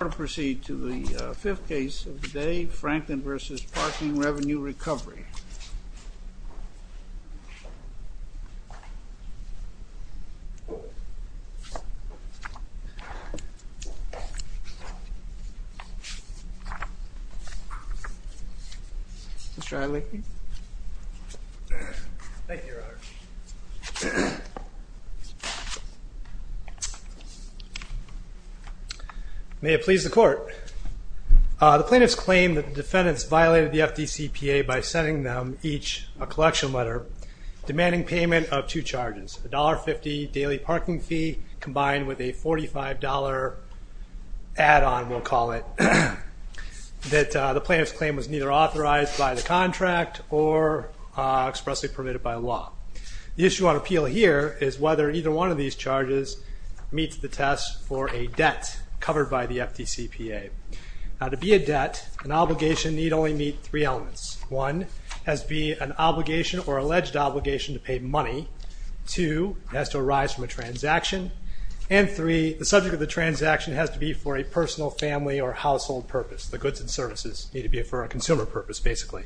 I'm going to proceed to the fifth case of the day, Franklin v. Parking Revenue Recovery. Mr. Adler. May it please the court. The plaintiffs claim that the defendants violated the FDCPA by sending them each a collection letter demanding payment of two charges, a $1.50 daily parking fee combined with a $45 add-on, we'll call it, that the plaintiff's claim was neither authorized by the contract or expressly permitted by law. The issue on appeal here is whether either one of these charges meets the test for a debt covered by the FDCPA. Now, to be a debt, an obligation need only meet three elements. One, has to be an obligation or alleged obligation to pay money. Two, it has to arise from a transaction. And three, the subject of the transaction has to be for a personal, family, or household purpose. The goods and services need to be for a consumer purpose, basically.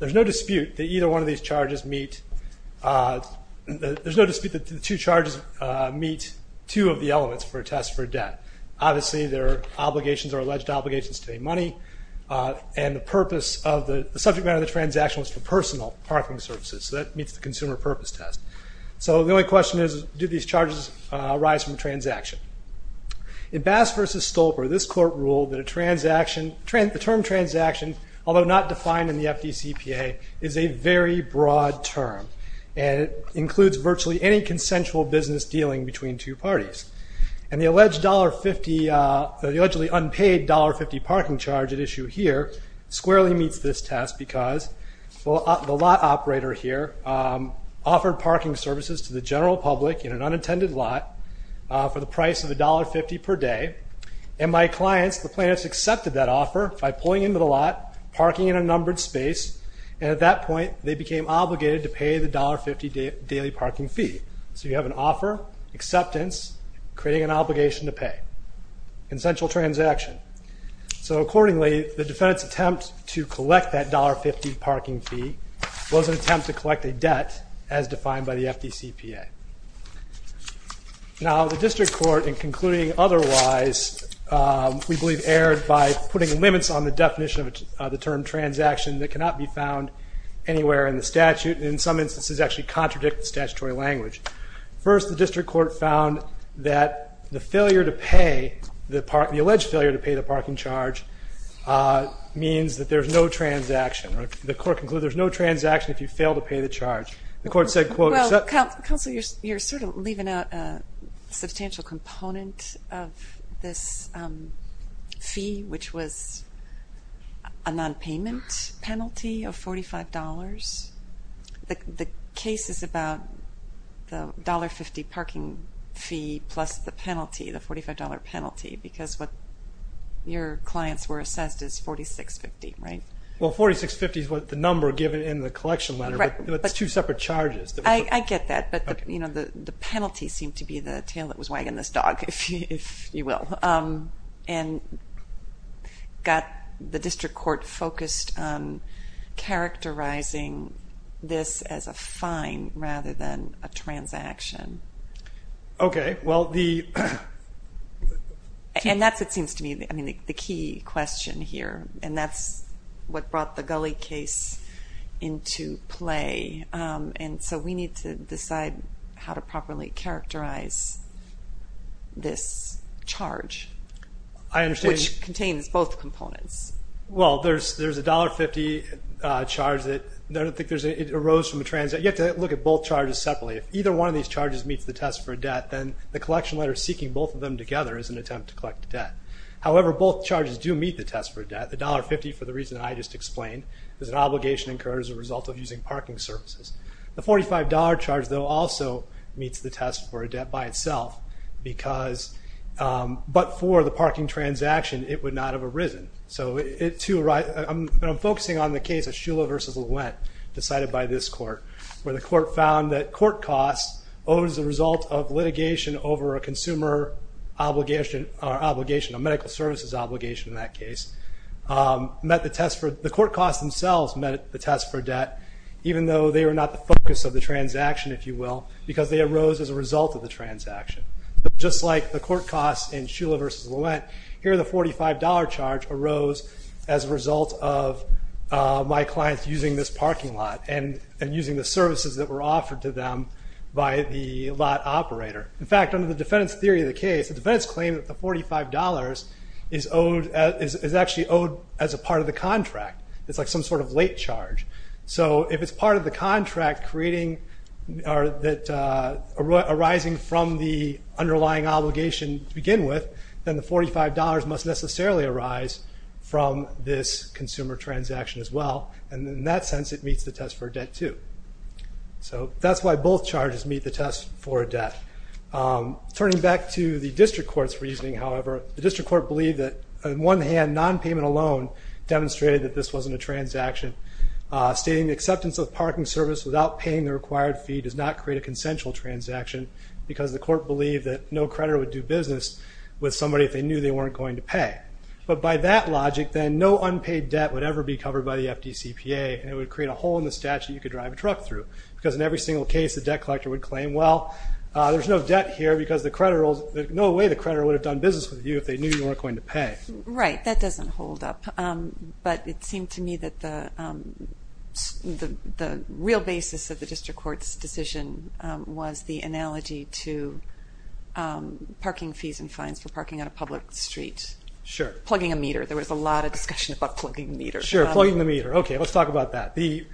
There's no dispute that either one of these charges meet, there's no dispute that the two charges meet two of the elements for a test for a debt. Obviously, there are obligations or alleged obligations to pay money, and the purpose of the subject matter of the transaction was for personal parking services, so that meets the consumer purpose test. So the only question is, do these charges arise from a transaction? In Bass v. Stolper, this court ruled that a transaction, the term transaction, although not defined in the FDCPA, is a very broad term. And it includes virtually any consensual business dealing between two parties. And the allegedly unpaid $1.50 parking charge at issue here squarely meets this test because the lot operator here offered parking services to the general public in an unintended lot for the price of $1.50 per day. And my clients, the plaintiffs, accepted that offer by pulling into the lot, parking in a numbered space, and at that point, they became obligated to pay the $1.50 daily parking fee. So you have an offer, acceptance, creating an obligation to pay, consensual transaction. So accordingly, the defendant's attempt to collect that $1.50 parking fee was an attempt to collect a debt as defined by the FDCPA. Now, the district court, in concluding otherwise, we believe erred by putting limits on the definition of the term transaction that cannot be found anywhere in the statute. And in some instances, actually contradict the statutory language. First, the district court found that the failure to pay, the alleged failure to pay the parking charge, means that there's no transaction. The court concluded there's no transaction if you fail to pay the charge. Counsel, you're sort of leaving out a substantial component of this fee, which was a nonpayment penalty of $45. The case is about the $1.50 parking fee plus the penalty, the $45 penalty, because what your clients were assessed is $46.50, right? Well, $46.50 is what the number given in the collection letter, but it's two separate charges. I get that, but the penalty seemed to be the tail that was wagging this dog, if you will. And got the district court focused on characterizing this as a fine rather than a transaction. And that's what seems to me the key question here, and that's what brought the Gully case into play. And so we need to decide how to properly characterize this charge, which contains both components. Well, there's a $1.50 charge that arose from a transaction. You have to look at both charges separately. If either one of these charges meets the test for a debt, then the collection letter seeking both of them together is an attempt to collect a debt. However, both charges do meet the test for a debt. The $1.50, for the reason I just explained, is an obligation incurred as a result of using parking services. The $45 charge, though, also meets the test for a debt by itself, but for the parking transaction it would not have arisen. And I'm focusing on the case of Shula v. Louent, decided by this court, where the court found that court costs, as a result of litigation over a medical services obligation in that case, the court costs themselves met the test for debt, even though they were not the focus of the transaction, if you will, because they arose as a result of the transaction. Just like the court costs in Shula v. Louent, here the $45 charge arose as a result of my clients using this parking lot and using the services that were offered to them by the lot operator. In fact, under the defendant's theory of the case, the defendant's claim that the $45 is actually owed as a part of the contract. It's like some sort of late charge. So if it's part of the contract arising from the underlying obligation to begin with, then the $45 must necessarily arise from this consumer transaction as well. And in that sense, it meets the test for debt, too. So that's why both charges meet the test for a debt. Turning back to the district court's reasoning, however, the district court believed that, on one hand, non-payment alone demonstrated that this wasn't a transaction. Stating the acceptance of the parking service without paying the required fee does not create a consensual transaction because the court believed that no creditor would do business with somebody if they knew they weren't going to pay. But by that logic, then, no unpaid debt would ever be covered by the FDCPA, and it would create a hole in the statute you could drive a truck through, because in every single case, the debt collector would claim, well, there's no debt here because the creditor, no way the creditor would have done business with you if they knew you weren't going to pay. Right, that doesn't hold up. But it seemed to me that the real basis of the district court's decision was the analogy to parking fees and fines for parking on a public street. Sure. Plugging a meter. There was a lot of discussion about plugging the meter. Sure, plugging the meter. Okay, let's talk about that. The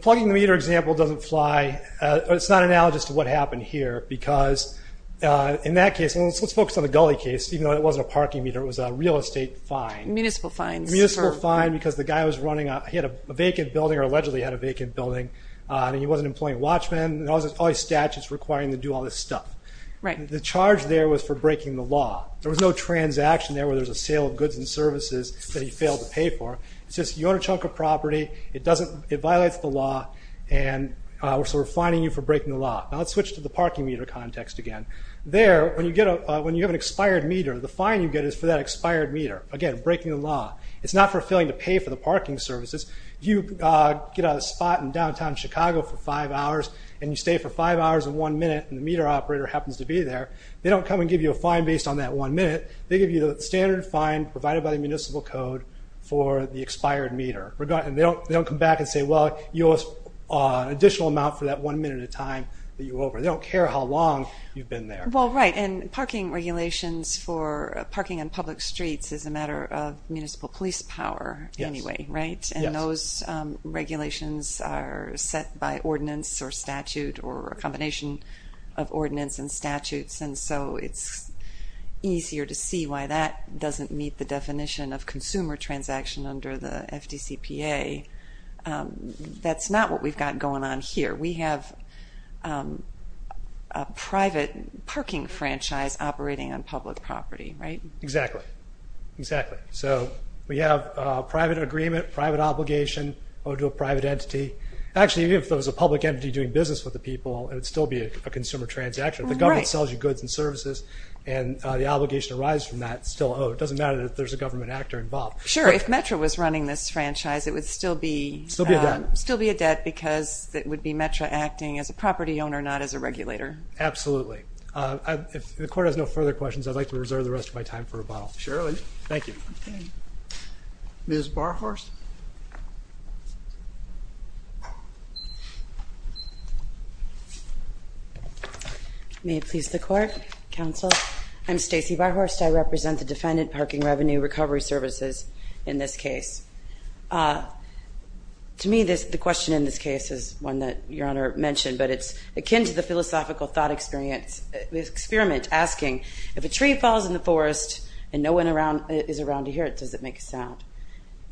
plugging the meter example doesn't fly. It's not analogous to what happened here, because in that case, and let's focus on the Gully case, even though it wasn't a parking meter, it was a real estate fine. Municipal fines. Municipal fine, because the guy was running, he had a vacant building, or allegedly had a vacant building, and he wasn't employing watchmen, and there was all these statutes requiring him to do all this stuff. Right. The charge there was for breaking the law. There was no transaction there where there was a sale of goods and services that he failed to pay for. It's just, you own a chunk of property, it violates the law, and we're sort of fining you for breaking the law. Now, let's switch to the parking meter context again. There, when you have an expired meter, the fine you get is for that expired meter. Again, breaking the law. It's not for failing to pay for the parking services. You get a spot in downtown Chicago for five hours, and you stay for five hours and one minute, and the meter operator happens to be there. They don't come and give you a fine based on that one minute. They give you the standard fine provided by the municipal code for the expired meter. They don't come back and say, well, you owe us an additional amount for that one minute of time that you were over. They don't care how long you've been there. Well, right, and parking regulations for parking on public streets is a matter of municipal police power anyway, right? And those regulations are set by ordinance or statute or a combination of ordinance and statutes, and so it's easier to see why that doesn't meet the definition of consumer transaction under the FDCPA. That's not what we've got going on here. We have a private parking franchise operating on public property, right? Exactly. Exactly. So we have private agreement, private obligation. We'll do a private entity. Actually, even if there was a public entity doing business with the people, it would still be a consumer transaction. The government sells you goods and services, and the obligation arises from that. It's still owed. It doesn't matter that there's a government actor involved. Sure. If Metro was running this franchise, it would still be a debt. Would it be a debt because it would be Metro acting as a property owner, not as a regulator? Absolutely. If the court has no further questions, I'd like to reserve the rest of my time for rebuttal. Sure. Thank you. Ms. Barhorst? May it please the court, counsel, I'm Stacey Barhorst. I represent the defendant, Parking Revenue Recovery Services, in this case. To me, the question in this case is one that Your Honor mentioned, but it's akin to the philosophical thought experiment asking, if a tree falls in the forest and no one is around to hear it, does it make a sound?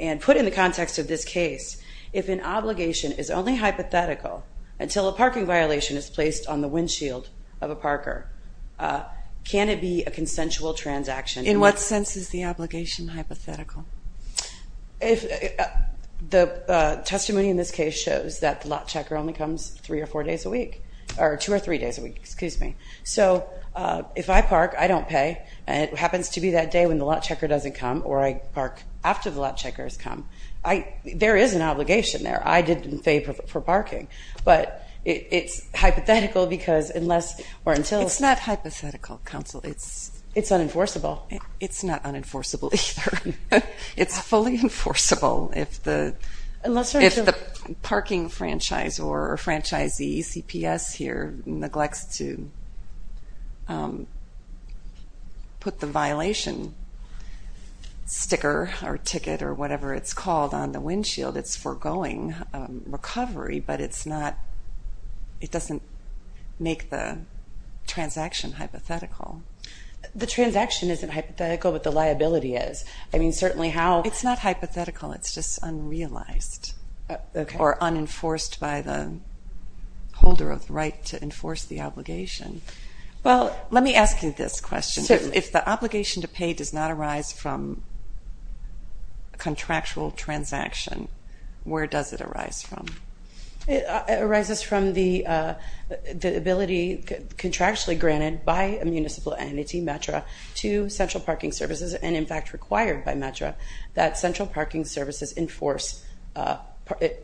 And put in the context of this case, if an obligation is only hypothetical until a parking violation is placed on the windshield of a parker, can it be a consensual transaction? In what sense is the obligation hypothetical? The testimony in this case shows that the lot checker only comes three or four days a week, or two or three days a week, excuse me. So if I park, I don't pay, and it happens to be that day when the lot checker doesn't come, or I park after the lot checker has come, there is an obligation there. I didn't pay for parking. But it's hypothetical because unless or until. It's not hypothetical, counsel. It's unenforceable. It's not unenforceable either. It's fully enforceable. Unless or until. If the parking franchise or franchisee, CPS here, neglects to put the violation sticker or ticket or whatever it's called on the windshield, it's foregoing recovery, but it doesn't make the transaction hypothetical. The transaction isn't hypothetical, but the liability is. I mean, certainly how. It's not hypothetical. It's just unrealized or unenforced by the holder of the right to enforce the obligation. Well, let me ask you this question. If the obligation to pay does not arise from a contractual transaction, where does it arise from? It arises from the ability contractually granted by a municipal entity, METRA, to Central Parking Services and, in fact, required by METRA, that Central Parking Services enforce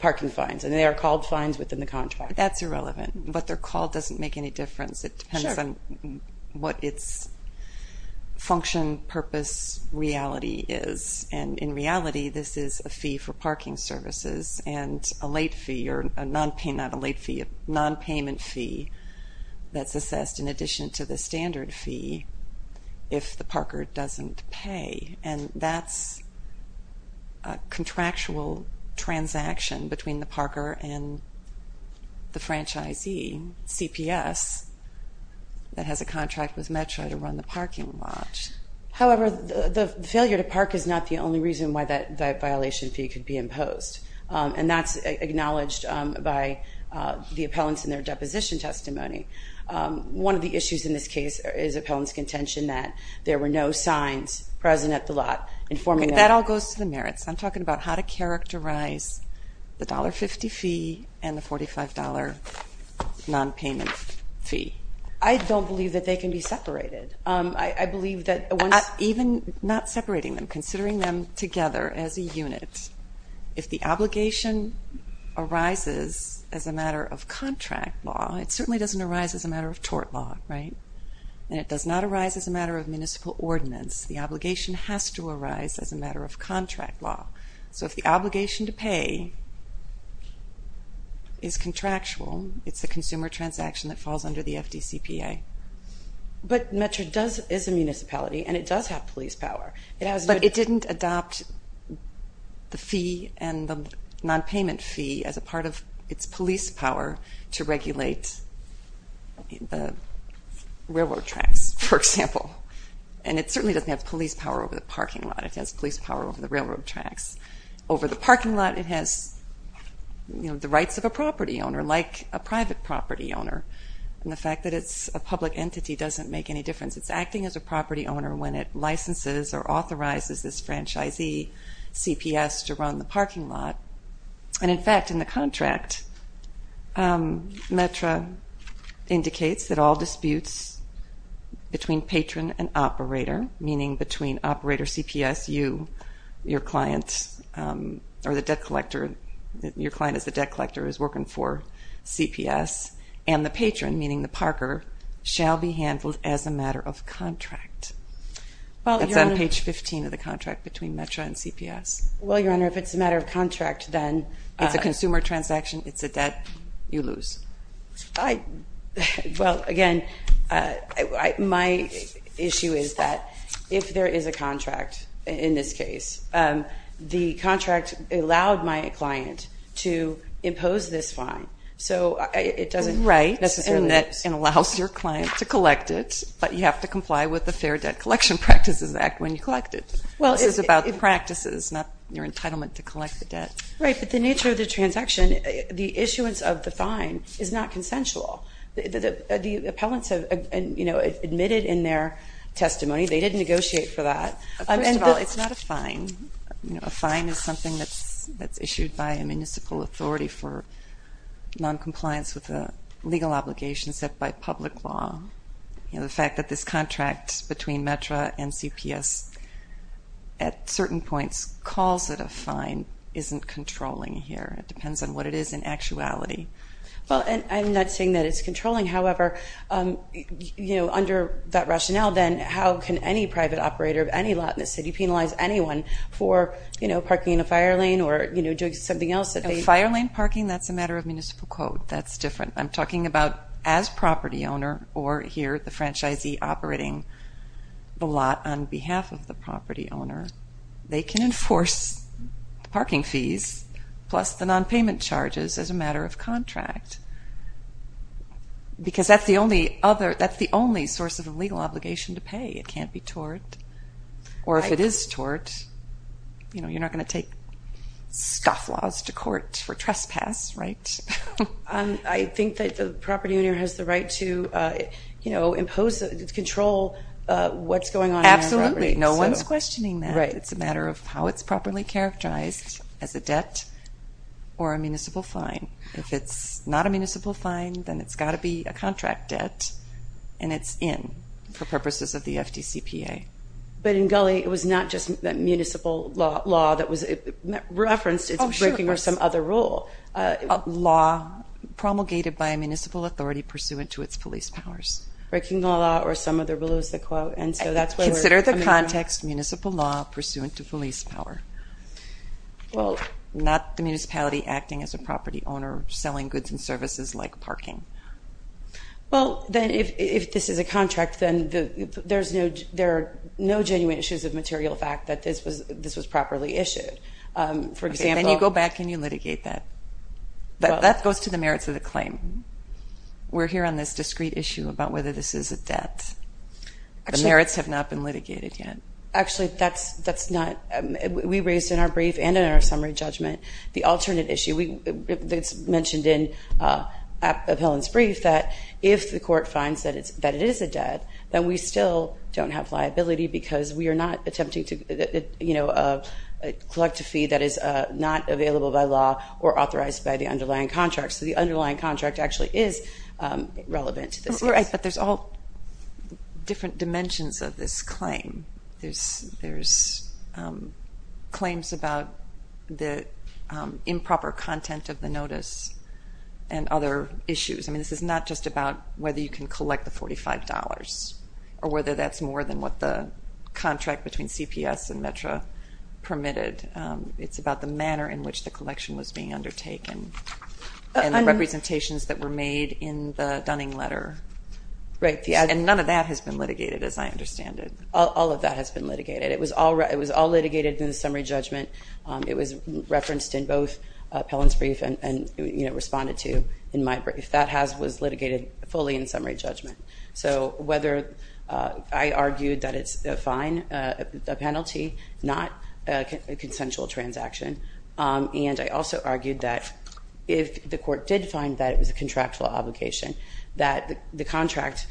parking fines, and they are called fines within the contract. That's irrelevant. What they're called doesn't make any difference. It depends on what its function, purpose, reality is. And in reality, this is a fee for parking services and a late fee or a nonpayment fee that's assessed in addition to the standard fee if the parker doesn't pay. And that's a contractual transaction between the parker and the franchisee, CPS, that has a contract with METRA to run the parking lot. However, the failure to park is not the only reason why that violation fee could be imposed, and that's acknowledged by the appellants in their deposition testimony. One of the issues in this case is appellants' contention that there were no signs present at the lot informing them. That all goes to the merits. I'm talking about how to characterize the $1.50 fee and the $45 nonpayment fee. I don't believe that they can be separated. Even not separating them, considering them together as a unit, if the obligation arises as a matter of contract law, it certainly doesn't arise as a matter of tort law, right? And it does not arise as a matter of municipal ordinance. The obligation has to arise as a matter of contract law. So if the obligation to pay is contractual, it's a consumer transaction that falls under the FDCPA. But METRA is a municipality, and it does have police power. But it didn't adopt the fee and the nonpayment fee as a part of its police power to regulate the railroad tracks, for example. And it certainly doesn't have police power over the parking lot. It has police power over the railroad tracks. Over the parking lot, it has the rights of a property owner, like a private property owner. And the fact that it's a public entity doesn't make any difference. It's acting as a property owner when it licenses or authorizes this franchisee, CPS, to run the parking lot. And in fact, in the contract, METRA indicates that all disputes between patron and operator, meaning between operator CPS, you, your client, or the debt collector, your client as the debt collector is working for CPS, and the patron, meaning the parker, shall be handled as a matter of contract. That's on page 15 of the contract between METRA and CPS. Well, Your Honor, if it's a matter of contract, then it's a consumer transaction, it's a debt, you lose. Well, again, my issue is that if there is a contract, in this case, the contract allowed my client to impose this fine, so it doesn't necessarily allow your client to collect it, but you have to comply with the Fair Debt Collection Practices Act when you collect it. Well, it's about practices, not your entitlement to collect the debt. Right, but the nature of the transaction, the issuance of the fine is not consensual. The appellants have admitted in their testimony they didn't negotiate for that. First of all, it's not a fine. A fine is something that's issued by a municipal authority for noncompliance with a legal obligation set by public law. The fact that this contract between METRA and CPS at certain points calls it a fine isn't controlling here. It depends on what it is in actuality. Well, I'm not saying that it's controlling. However, under that rationale, then how can any private operator of any lot in the city penalize anyone for parking in a fire lane or doing something else? Fire lane parking, that's a matter of municipal code. That's different. I'm talking about as property owner or here the franchisee operating the lot on behalf of the property owner. They can enforce the parking fees plus the nonpayment charges as a matter of contract because that's the only source of a legal obligation to pay. It can't be tort. Or if it is tort, you're not going to take stuff laws to court for trespass, right? I think that the property owner has the right to impose, control what's going on in their property. Absolutely. No one's questioning that. It's a matter of how it's properly characterized as a debt or a municipal fine. If it's not a municipal fine, then it's got to be a contract debt, and it's in for purposes of the FDCPA. But in Gully, it was not just that municipal law that was referenced. Oh, sure. It's breaking or some other rule. Law promulgated by a municipal authority pursuant to its police powers. Breaking the law or some other rule is the quote, and so that's where we're coming from. Consider the context municipal law pursuant to police power. Well. Not the municipality acting as a property owner selling goods and services like parking. Well, then if this is a contract, then there are no genuine issues of material fact that this was properly issued. Then you go back and you litigate that. That goes to the merits of the claim. We're here on this discrete issue about whether this is a debt. The merits have not been litigated yet. Actually, that's not. We raised in our brief and in our summary judgment the alternate issue. It's mentioned in Appellant's brief that if the court finds that it is a debt, then we still don't have liability because we are not attempting to collect a fee that is not available by law or authorized by the underlying contract. So the underlying contract actually is relevant to this case. Right, but there's all different dimensions of this claim. There's claims about the improper content of the notice and other issues. I mean, this is not just about whether you can collect the $45 or whether that's more than what the contract between CPS and METRA permitted. It's about the manner in which the collection was being undertaken and the representations that were made in the Dunning letter. Right. And none of that has been litigated as I understand it. All of that has been litigated. It was all litigated in the summary judgment. It was referenced in both Appellant's brief and responded to in my brief. That was litigated fully in summary judgment. So whether I argued that it's a fine, a penalty, not a consensual transaction, and I also argued that if the court did find that it was a contractual obligation, that the contract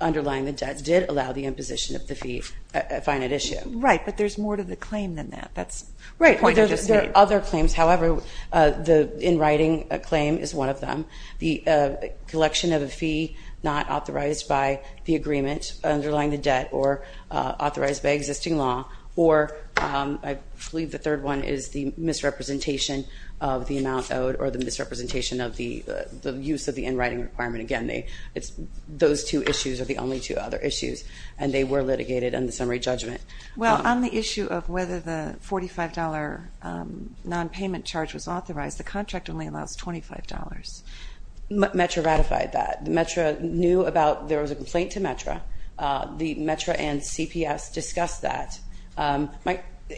underlying the debt did allow the imposition of the fee, a finite issue. Right, but there's more to the claim than that. That's the point I just made. Right. There are other claims. However, the in writing claim is one of them. The collection of a fee not authorized by the agreement underlying the debt or authorized by existing law, or I believe the third one is the misrepresentation of the amount owed or the misrepresentation of the use of the in writing requirement. Again, those two issues are the only two other issues, and they were litigated in the summary judgment. Well, on the issue of whether the $45 nonpayment charge was authorized, the contract only allows $25. METRA ratified that. METRA knew about there was a complaint to METRA. The METRA and CPS discussed that.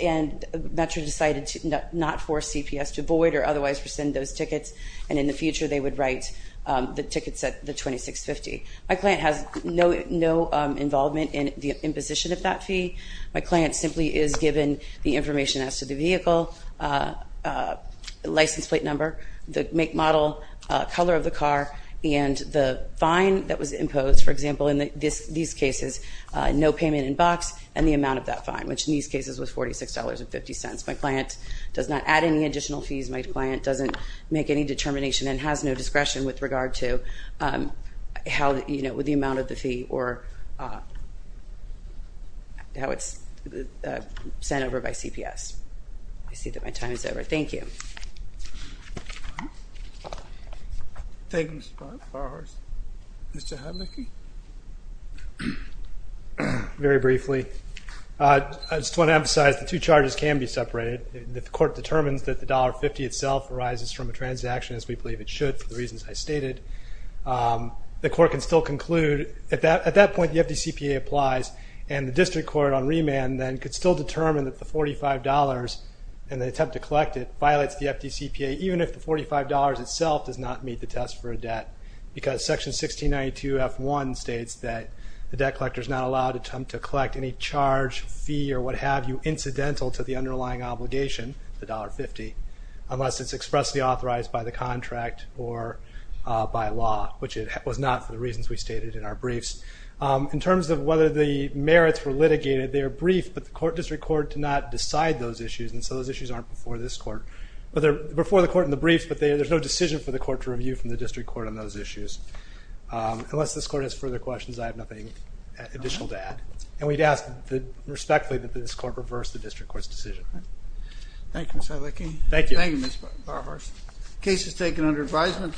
And METRA decided to not force CPS to void or otherwise rescind those tickets, and in the future they would write the tickets at the $26.50. My client has no involvement in the imposition of that fee. My client simply is given the information as to the vehicle, license plate number, the make model, color of the car, and the fine that was imposed, for example, in these cases, no payment in box, and the amount of that fine, which in these cases was $46.50. My client does not add any additional fees. My client doesn't make any determination and has no discretion with regard to the amount of the fee or how it's sent over by CPS. I see that my time is over. Thank you. Thank you, Mr. Farhars. Mr. Hadlicky? Very briefly, I just want to emphasize the two charges can be separated. If the court determines that the $1.50 itself arises from a transaction, as we believe it should, for the reasons I stated, the court can still conclude. At that point, the FDCPA applies, and the district court on remand then could still determine that the $45, and they attempt to collect it, violates the FDCPA, even if the $45 itself does not meet the test for a debt, because Section 1692F1 states that the debt collector is not allowed to attempt to collect any charge, fee, or what have you, incidental to the underlying obligation, the $1.50, unless it's expressly authorized by the contract or by law, which it was not for the reasons we stated in our briefs. In terms of whether the merits were litigated, they are brief, but the district court did not decide those issues, and so those issues aren't before this court. But they're before the court in the briefs, but there's no decision for the court to review from the district court on those issues. Unless this court has further questions, I have nothing additional to add. And we'd ask respectfully that this court reverse the district court's decision. Thank you, Mr. Hadlicky. Thank you. Thank you, Mr. Farhars. Case is taken under advisement.